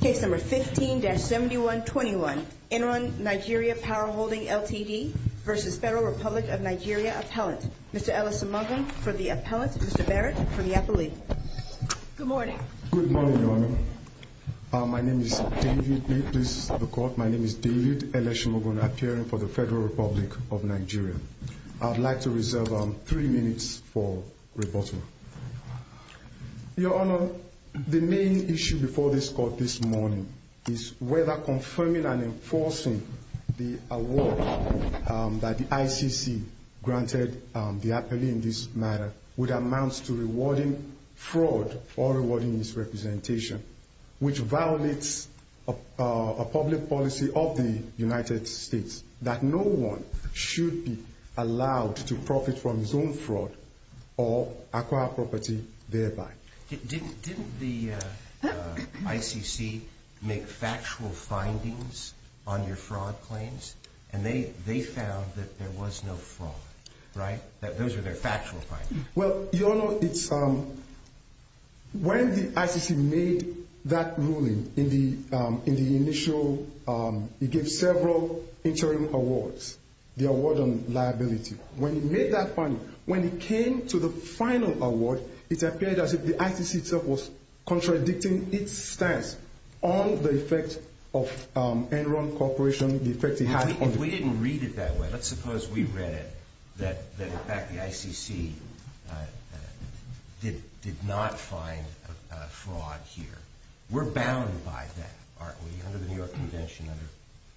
Case number 15-7121. Enron Nigeria Power Holding Ltd. v. Federal Republic of Nigeria Appellant. Mr. Ellis Omugun for the Appellant. Mr. Barrett for the Appellee. Good morning. Good morning, Your Honor. My name is David Ellis Omugun, appearing for the Federal Republic of Nigeria. I'd like to reserve three minutes for rebuttal. Your Honor, the main issue before this Court this morning is whether confirming and enforcing the award that the ICC granted the appellee in this matter would amount to rewarding fraud or rewarding misrepresentation, which violates a public policy of the United States that no one should be allowed to profit from his own fraud or acquire property thereby. Didn't the ICC make factual findings on your fraud claims? And they found that there was no fraud, right? Those are their factual findings. Well, Your Honor, when the ICC made that ruling in the initial, it gave several interim awards. The award on liability, when it made that finding, when it came to the final award, it appeared as if the ICC itself was contradicting its stance on the effect of Enron Corporation. If we didn't read it that way, let's suppose we read it that, in fact, the ICC did not find fraud here. We're bound by that, aren't we, under the New York Convention, under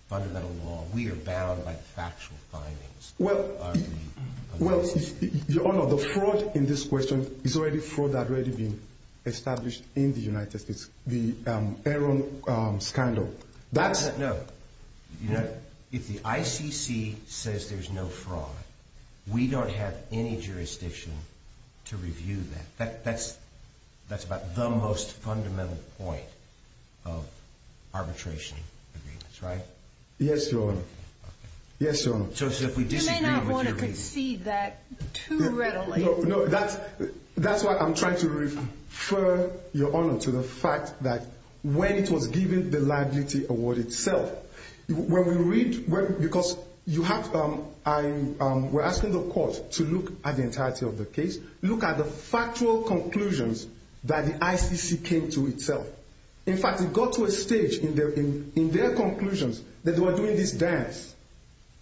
fundamental law. We are bound by the factual findings, aren't we? Well, Your Honor, the fraud in this question is already fraud that's already been established in the United States. The Enron scandal. No. If the ICC says there's no fraud, we don't have any jurisdiction to review that. That's about the most fundamental point of arbitration agreements, right? Yes, Your Honor. Yes, Your Honor. You may not want to concede that too readily. No, that's why I'm trying to refer, Your Honor, to the fact that when it was given the liability award itself, when we read, because you have, we're asking the court to look at the entirety of the case, look at the factual conclusions that the ICC came to itself. In fact, it got to a stage in their conclusions that they were doing this dance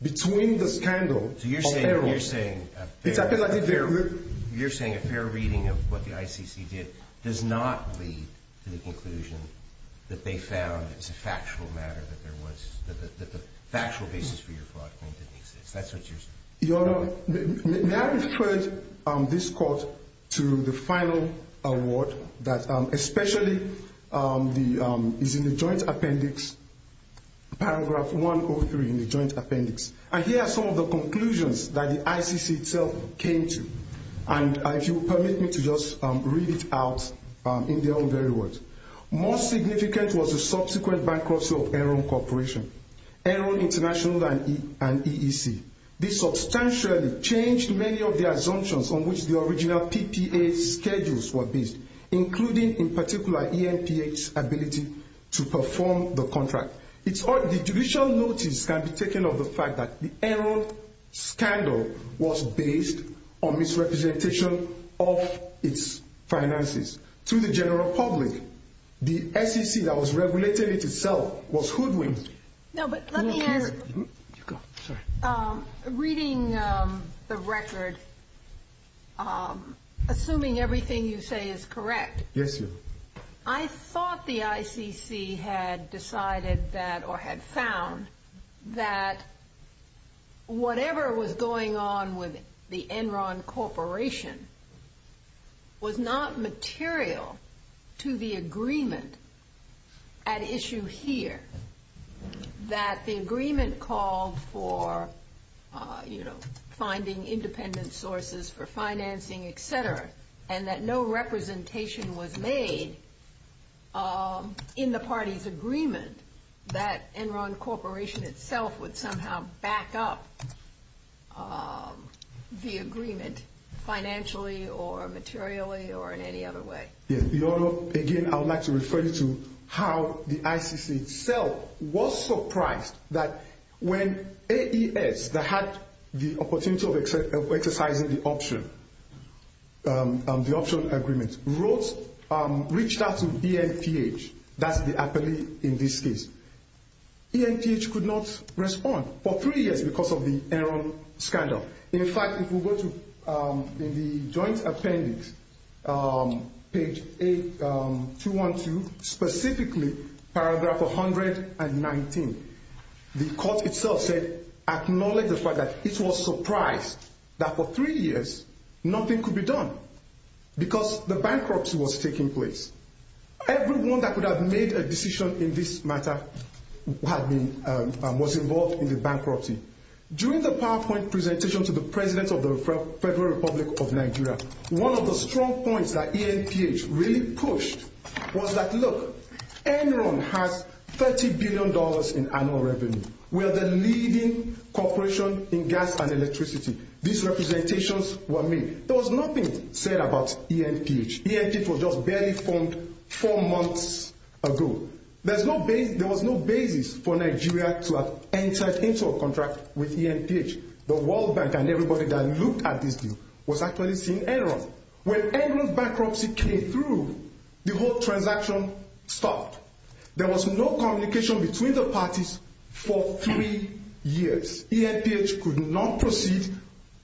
between the scandal and Enron. So you're saying a fair reading of what the ICC did does not lead to the conclusion that they found it's a factual matter that there was, that the factual basis for your fraud claim didn't exist. That's what you're saying. Your Honor, may I refer this court to the final award that especially is in the joint appendix, paragraph 103 in the joint appendix. And here are some of the conclusions that the ICC itself came to. And if you will permit me to just read it out in their own very words. Most significant was the subsequent bankruptcy of Enron Corporation, Enron International, and EEC. This substantially changed many of the assumptions on which the original PPA schedules were based, including, in particular, ENPA's ability to perform the contract. The judicial notice can be taken of the fact that the Enron scandal was based on misrepresentation of its finances. To the general public, the ICC that was regulating it itself was hoodwinked. No, but let me ask, reading the record, assuming everything you say is correct. Yes, ma'am. I thought the ICC had decided that or had found that whatever was going on with the Enron Corporation was not material to the agreement at issue here. That the agreement called for, you know, finding independent sources for financing, etc. And that no representation was made in the party's agreement that Enron Corporation itself would somehow back up the agreement financially or materially or in any other way. Yes, Your Honor, again, I would like to refer you to how the ICC itself was surprised that when AES, that had the opportunity of exercising the option agreement, reached out to ENPH. That's the appellee in this case. ENPH could not respond for three years because of the Enron scandal. In fact, if we go to the joint appendix, page 8212, specifically paragraph 119, the court itself said, acknowledged the fact that it was surprised that for three years nothing could be done because the bankruptcy was taking place. Everyone that could have made a decision in this matter was involved in the bankruptcy. During the PowerPoint presentation to the President of the Federal Republic of Nigeria, one of the strong points that ENPH really pushed was that, look, Enron has $30 billion in annual revenue. We are the leading corporation in gas and electricity. These representations were made. There was nothing said about ENPH. ENPH was just barely formed four months ago. There was no basis for Nigeria to have entered into a contract with ENPH. The World Bank and everybody that looked at this deal was actually seeing Enron. When Enron's bankruptcy came through, the whole transaction stopped. There was no communication between the parties for three years. ENPH could not proceed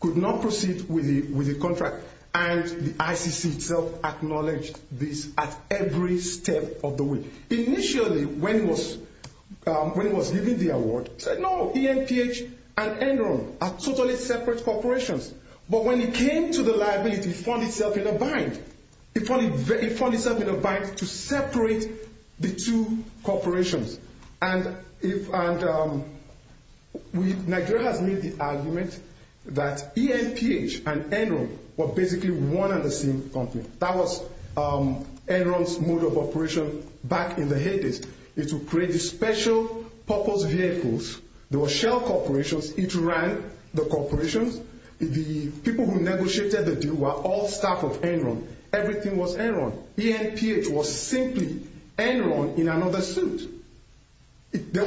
with the contract, and the ICC itself acknowledged this at every step of the way. Initially, when it was given the award, it said, no, ENPH and Enron are totally separate corporations. But when it came to the liability, it found itself in a bind. It found itself in a bind to separate the two corporations. And Nigeria has made the argument that ENPH and Enron were basically one and the same company. That was Enron's mode of operation back in the 80s. It would create the special purpose vehicles. There were shell corporations. It ran the corporations. The people who negotiated the deal were all staff of Enron. Everything was Enron. ENPH was simply Enron in another suit. There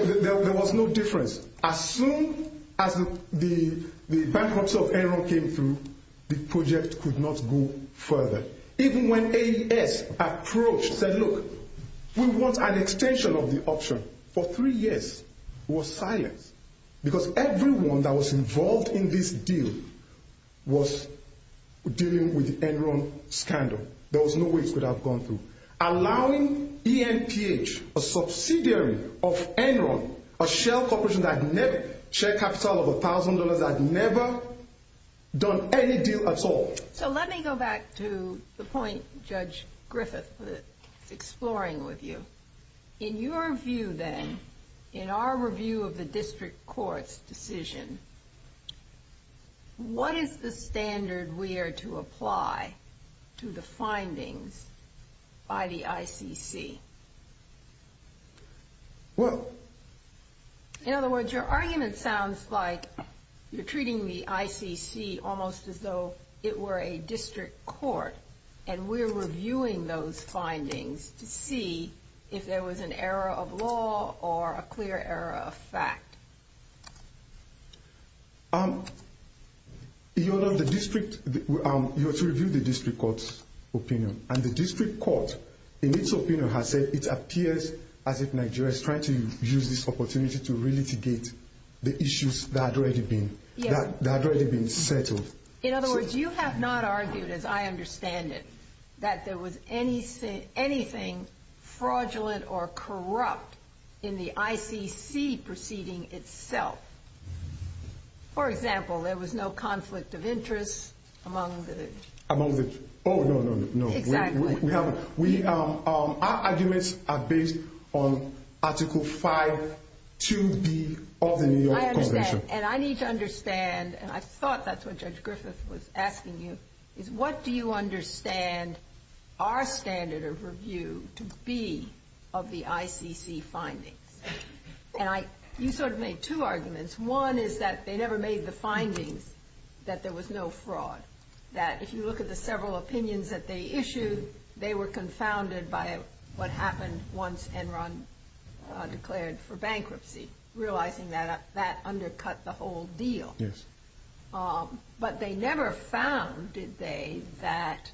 was no difference. As soon as the bankruptcy of Enron came through, the project could not go further. Even when AES approached and said, look, we want an extension of the option, for three years, it was silent. Because everyone that was involved in this deal was dealing with the Enron scandal. There was no way it could have gone through. Allowing ENPH, a subsidiary of Enron, a shell corporation that had share capital of $1,000, had never done any deal at all. So let me go back to the point Judge Griffith was exploring with you. In your view, then, in our review of the district court's decision, what is the standard we are to apply to the findings by the ICC? In other words, your argument sounds like you're treating the ICC almost as though it were a district court, and we're reviewing those findings to see if there was an error of law or a clear error of fact. You're to review the district court's opinion. And the district court, in its opinion, has said it appears as if Nigeria is trying to use this opportunity to re-litigate the issues that had already been settled. In other words, you have not argued, as I understand it, that there was anything fraudulent or corrupt in the ICC proceeding itself. For example, there was no conflict of interest among the... Among the... Oh, no, no, no. Exactly. Our arguments are based on Article 5, 2B of the New York Convention. I understand. And I need to understand, and I thought that's what Judge Griffith was asking you, is what do you understand our standard of review to be of the ICC findings? And you sort of made two arguments. One is that they never made the findings that there was no fraud, that if you look at the several opinions that they issued, they were confounded by what happened once Enron declared for bankruptcy, realizing that that undercut the whole deal. Yes. But they never found, did they, that...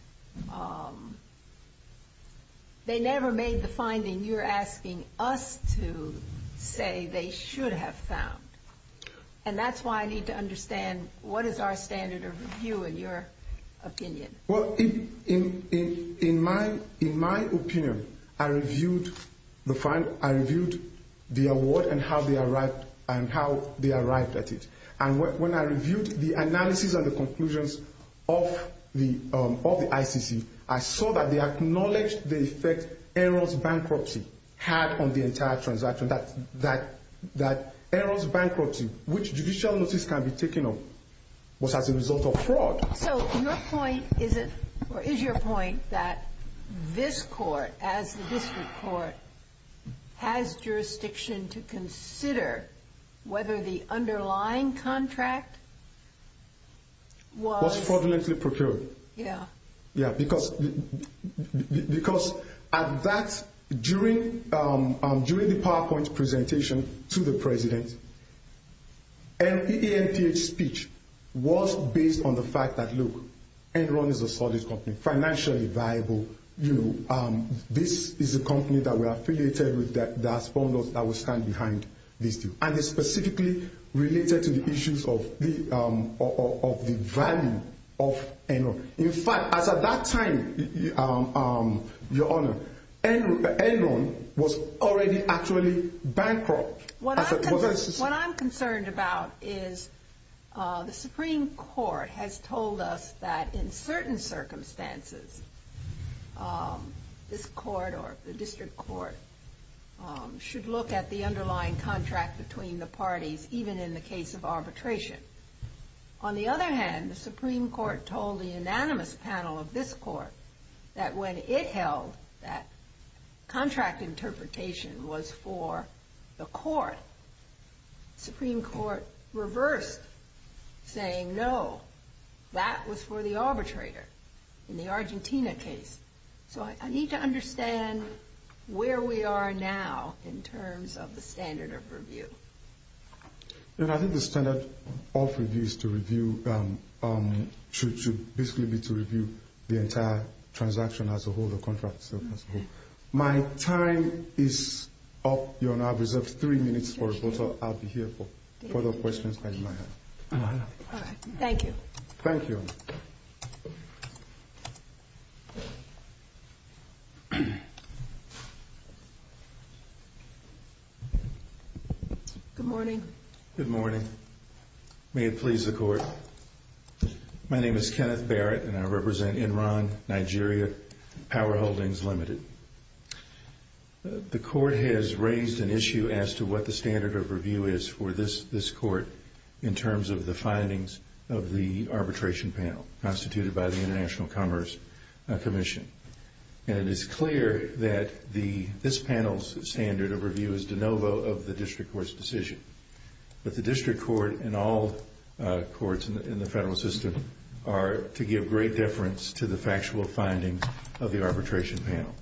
They never made the finding you're asking us to say they should have found. And that's why I need to understand what is our standard of review in your opinion. Well, in my opinion, I reviewed the award and how they arrived at it. And when I reviewed the analysis and the conclusions of the ICC, I saw that they acknowledged the effect Enron's bankruptcy had on the entire transaction, that Enron's bankruptcy, which judicial notice can be taken of, was as a result of fraud. So your point is that this court, as the district court, has jurisdiction to consider whether the underlying contract was... Was fraudulently procured. Yeah. Yeah, because at that, during the PowerPoint presentation to the president, EMPH's speech was based on the fact that, look, Enron is a solid company, financially viable. This is a company that we're affiliated with, that has found us, that we stand behind this deal. And it's specifically related to the issues of the value of Enron. In fact, as at that time, Your Honor, Enron was already actually bankrupt. What I'm concerned about is the Supreme Court has told us that in certain circumstances, this court or the district court should look at the underlying contract between the parties, even in the case of arbitration. On the other hand, the Supreme Court told the unanimous panel of this court that when it held that the contract interpretation was for the court, the Supreme Court reversed, saying, no, that was for the arbitrator in the Argentina case. So I need to understand where we are now in terms of the standard of review. Your Honor, I think the standard of review is to review... My time is up, Your Honor. I've reserved three minutes for rebuttal. I'll be here for further questions. All right. Thank you. Thank you. Good morning. Good morning. May it please the Court. My name is Kenneth Barrett, and I represent Enron Nigeria Power Holdings Limited. The Court has raised an issue as to what the standard of review is for this court in terms of the findings of the arbitration panel constituted by the International Commerce Commission. And it is clear that this panel's standard of review is de novo of the district court's decision. But the district court and all courts in the federal system are to give great deference to the factual findings of the arbitration panel.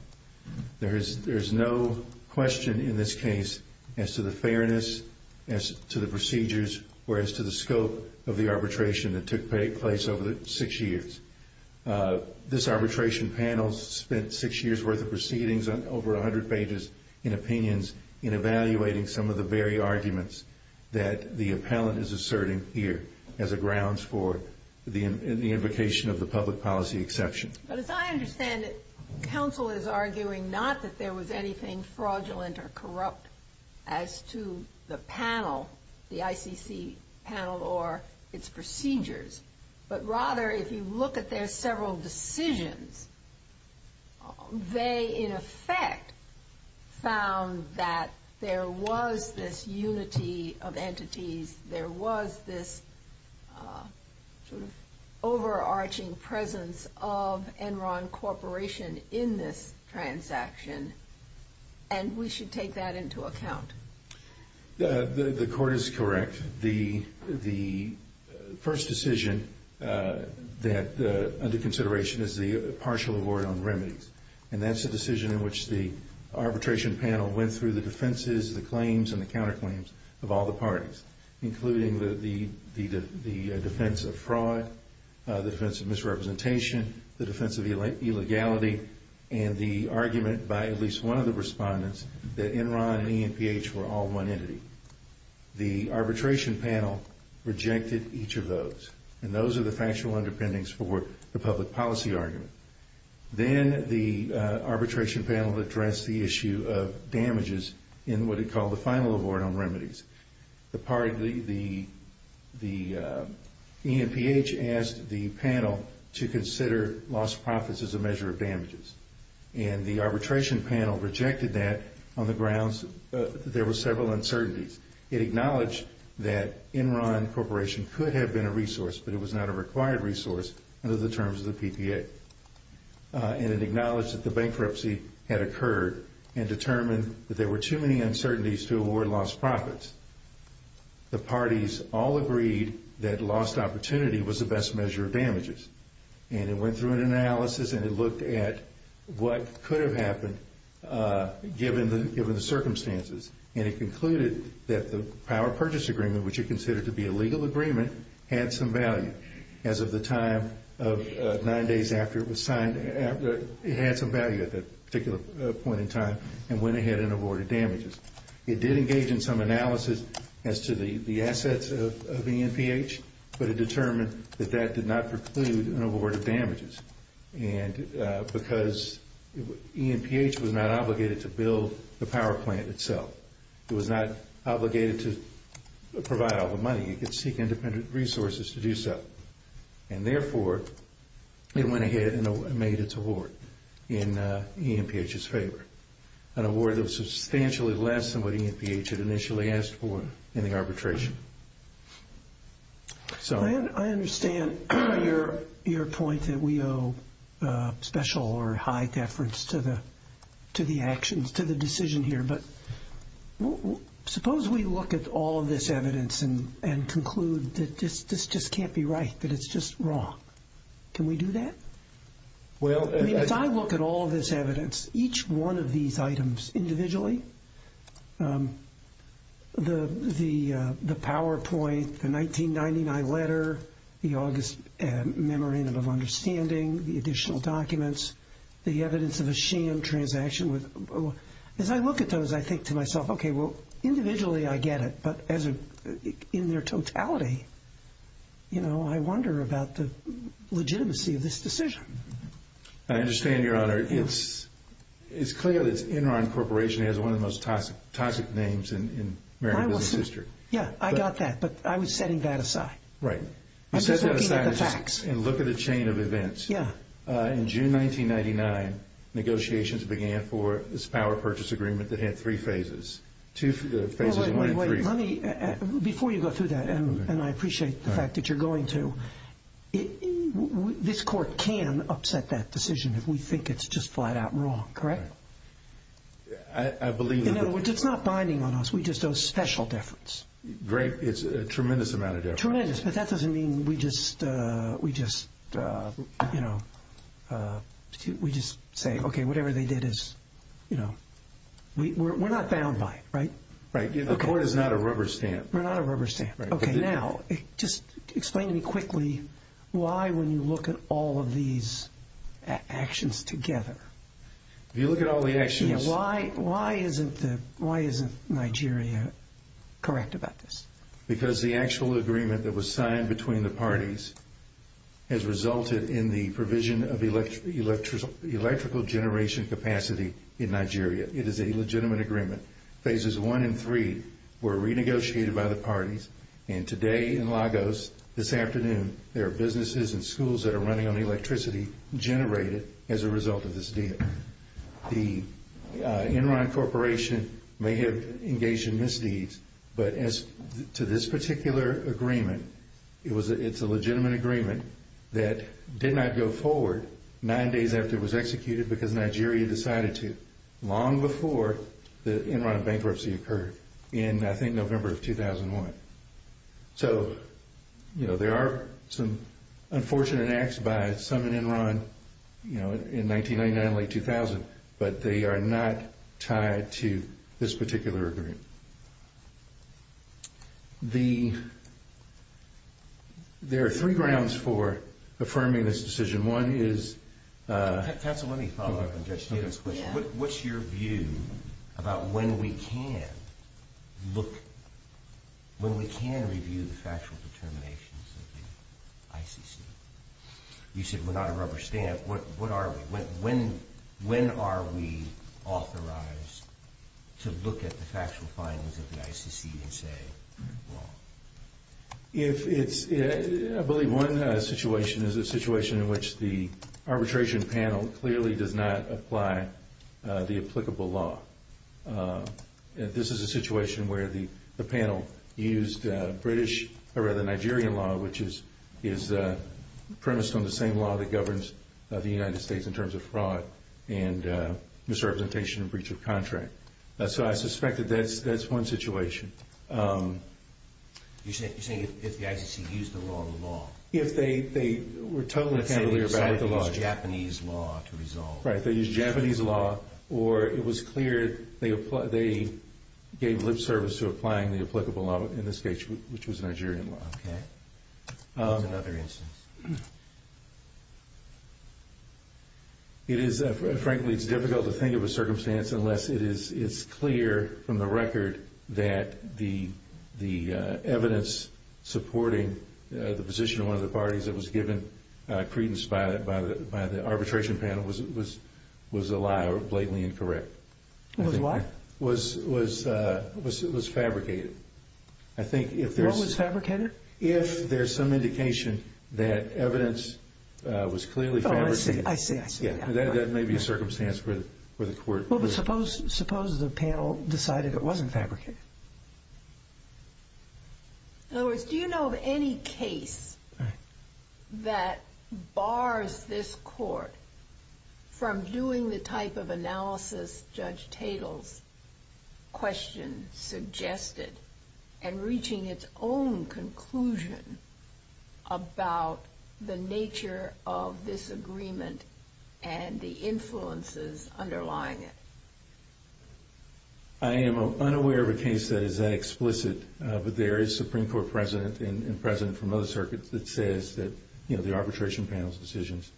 There is no question in this case as to the fairness, as to the procedures, or as to the scope of the arbitration that took place over the six years. This arbitration panel spent six years' worth of proceedings on over 100 pages in opinions in evaluating some of the very arguments that the appellant is asserting here as a grounds for the invocation of the public policy exception. But as I understand it, counsel is arguing not that there was anything fraudulent or corrupt as to the panel, the ICC panel, or its procedures. But rather, if you look at their several decisions, they in effect found that there was this unity of entities, there was this sort of overarching presence of Enron Corporation in this transaction, and we should take that into account. The court is correct. The first decision under consideration is the partial award on remedies, and that's a decision in which the arbitration panel went through the defenses, the claims, and the counterclaims of all the parties, including the defense of fraud, the defense of misrepresentation, the defense of illegality, and the argument by at least one of the respondents that Enron and EMPH were all one entity. The arbitration panel rejected each of those, and those are the factual underpinnings for the public policy argument. Then the arbitration panel addressed the issue of damages in what it called the final award on remedies. The EMPH asked the panel to consider lost profits as a measure of damages, and the arbitration panel rejected that on the grounds that there were several uncertainties. It acknowledged that Enron Corporation could have been a resource, but it was not a required resource under the terms of the PPA, and it acknowledged that the bankruptcy had occurred and determined that there were too many uncertainties to award lost profits. The parties all agreed that lost opportunity was the best measure of damages, and it went through an analysis and it looked at what could have happened given the circumstances, and it concluded that the power purchase agreement, which it considered to be a legal agreement, had some value. As of the time of nine days after it was signed, it had some value at that particular point in time and went ahead and awarded damages. It did engage in some analysis as to the assets of EMPH, but it determined that that did not preclude an award of damages. Because EMPH was not obligated to build the power plant itself. It was not obligated to provide all the money. It could seek independent resources to do so. Therefore, it went ahead and made its award in EMPH's favor, an award that was substantially less than what EMPH had initially asked for in the arbitration. I understand your point that we owe special or high deference to the actions, to the decision here, but suppose we look at all of this evidence and conclude that this just can't be right, that it's just wrong. Can we do that? If I look at all of this evidence, each one of these items individually, the PowerPoint, the 1999 letter, the August memorandum of understanding, the additional documents, the evidence of a sham transaction. As I look at those, I think to myself, okay, well, individually I get it, but in their totality, I wonder about the legitimacy of this decision. I understand, Your Honor. It's clear that Enron Corporation has one of the most toxic names in Merrill Business District. Yeah, I got that, but I was setting that aside. Right. I'm just looking at the facts. You set that aside and look at the chain of events. In June 1999, negotiations began for this power purchase agreement that had three phases. Two phases, one in three. Before you go through that, and I appreciate the fact that you're going to, this court can upset that decision if we think it's just flat out wrong, correct? I believe that. No, it's not binding on us. We just owe special deference. Great. It's a tremendous amount of deference. Tremendous, but that doesn't mean we just say, okay, whatever they did is, you know. We're not bound by it, right? Right. The court is not a rubber stamp. We're not a rubber stamp. Right. Okay, now just explain to me quickly why when you look at all of these actions together. If you look at all the actions. Yeah, why isn't Nigeria correct about this? Because the actual agreement that was signed between the parties has resulted in the provision of electrical generation capacity in Nigeria. It is a legitimate agreement. Phases one and three were renegotiated by the parties, and today in Lagos, this afternoon, there are businesses and schools that are running on electricity generated as a result of this deal. The Enron Corporation may have engaged in misdeeds, but as to this particular agreement, it's a legitimate agreement that did not go forward nine days after it was executed because Nigeria decided to long before the Enron bankruptcy occurred in, I think, November of 2001. So, you know, there are some unfortunate acts by some in Enron, you know, in 1999 and late 2000, but they are not tied to this particular agreement. There are three grounds for affirming this decision. Counsel, let me follow up on Judge Tate's question. What's your view about when we can look, when we can review the factual determinations of the ICC? You said we're not a rubber stamp. What are we? When are we authorized to look at the factual findings of the ICC and say, well? I believe one situation is a situation in which the arbitration panel clearly does not apply the applicable law. This is a situation where the panel used British, or rather Nigerian law, which is premised on the same law that governs the United States in terms of fraud and misrepresentation and breach of contract. So I suspect that that's one situation. You're saying if the ICC used the wrong law? If they were totally familiar with the law. Let's say they decided to use Japanese law to resolve. Right, they used Japanese law, or it was clear they gave lip service to applying the applicable law, in this case, which was Nigerian law. Okay. Here's another instance. Frankly, it's difficult to think of a circumstance unless it's clear from the record that the evidence supporting the position of one of the parties that was given credence by the arbitration panel was a lie or blatantly incorrect. Was what? It was fabricated. What was fabricated? If there's some indication that evidence was clearly fabricated. I see, I see, I see. That may be a circumstance where the court was. Suppose the panel decided it wasn't fabricated. In other words, do you know of any case that bars this court from doing the type of analysis Judge Tatel's question suggested and reaching its own conclusion about the nature of this agreement and the influences underlying it? I am unaware of a case that is that explicit, but there is Supreme Court precedent and precedent from other circuits that says that the arbitration panel's decisions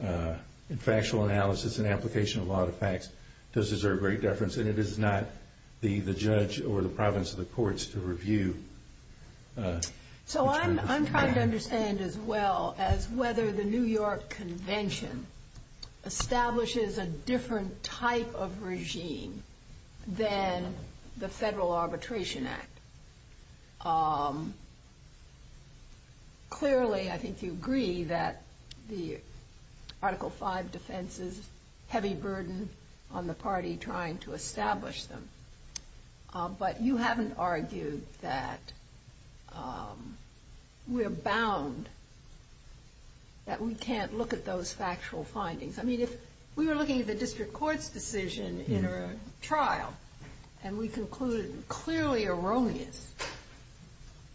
and factual analysis and application of a lot of facts does deserve great deference and it is not the judge or the province of the courts to review. So I'm trying to understand as well as whether the New York Convention establishes a different type of regime than the Federal Arbitration Act. Clearly, I think you agree that the Article V defense is heavy burden on the party trying to establish them. But you haven't argued that we're bound, that we can't look at those factual findings. I mean, if we were looking at the district court's decision in a trial and we concluded clearly erroneous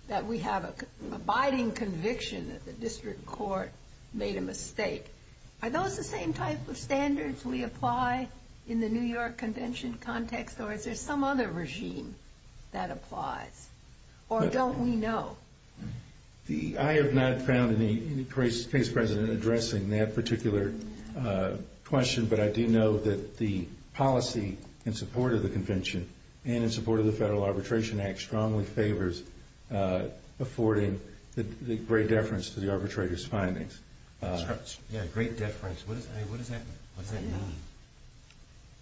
that we have an abiding conviction that the district court made a mistake, are those the same type of standards we apply in the New York Convention context or is there some other regime that applies? Or don't we know? I have not found any case precedent addressing that particular question, but I do know that the policy in support of the convention and in support of the Federal Arbitration Act strongly favors affording great deference to the arbitrator's findings. Great deference. What does that mean?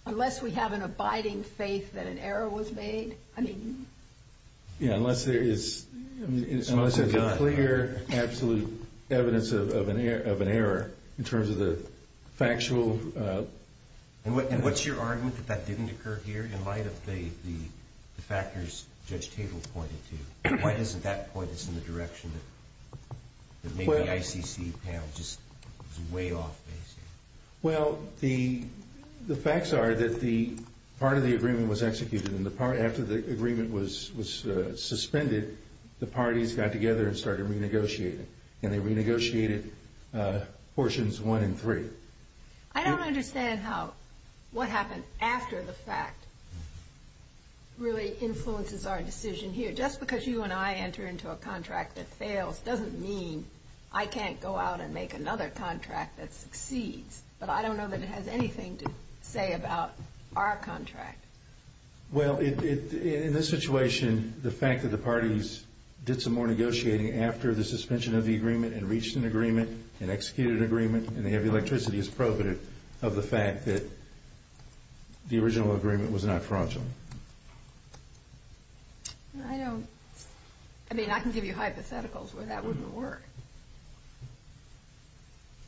Unless we have an abiding faith that an error was made. Yeah, unless there is clear, absolute evidence of an error in terms of the factual... And what's your argument that that didn't occur here in light of the factors Judge Tatel pointed to? Why doesn't that point us in the direction that maybe the ICC panel is just way off basing? Well, the facts are that part of the agreement was executed and after the agreement was suspended, the parties got together and started renegotiating, and they renegotiated portions one and three. I don't understand how what happened after the fact really influences our decision here. Just because you and I enter into a contract that fails doesn't mean I can't go out and make another contract that succeeds. But I don't know that it has anything to say about our contract. Well, in this situation, the fact that the parties did some more negotiating after the suspension of the agreement and reached an agreement, an executed agreement, and they have electricity, of the fact that the original agreement was not fraudulent. I don't... I mean, I can give you hypotheticals where that wouldn't work.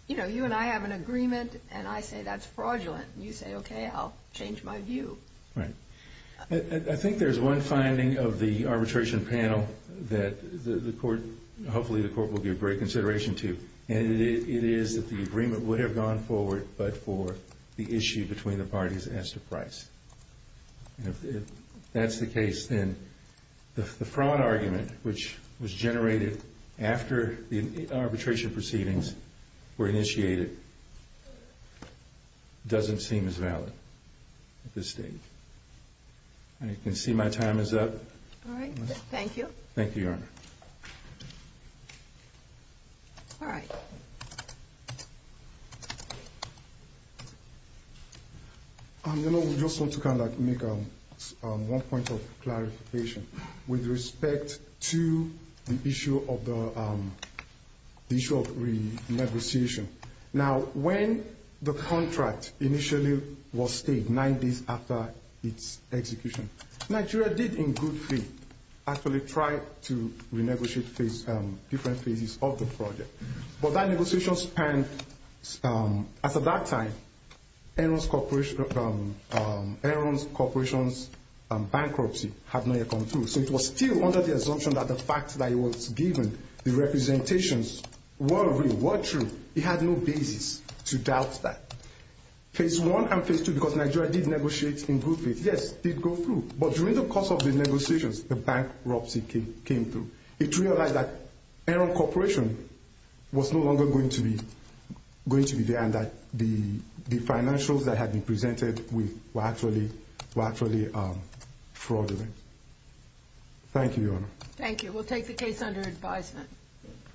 You know, you and I have an agreement, and I say that's fraudulent, and you say, okay, I'll change my view. Right. I think there's one finding of the arbitration panel that the court... but for the issue between the parties as to price. If that's the case, then the fraud argument, which was generated after the arbitration proceedings were initiated, doesn't seem as valid at this stage. I can see my time is up. Thank you, Your Honor. All right. Your Honor, we just want to kind of make one point of clarification with respect to the issue of renegotiation. Now, when the contract initially was stayed, nine days after its execution, Nigeria did, in good faith, actually try to renegotiate different phases of the project. But that negotiation spanned... As of that time, Aaron's Corporation's bankruptcy had not yet come through, so it was still under the assumption that the facts that it was given, the representations, were real, were true. It had no basis to doubt that. Phase one and phase two, because Nigeria did negotiate in good faith, yes, did go through. But during the course of the negotiations, the bankruptcy came through. It realized that Aaron Corporation was no longer going to be there and that the financials that had been presented were actually fraudulent. Thank you, Your Honor. Thank you. We'll take the case under advisement.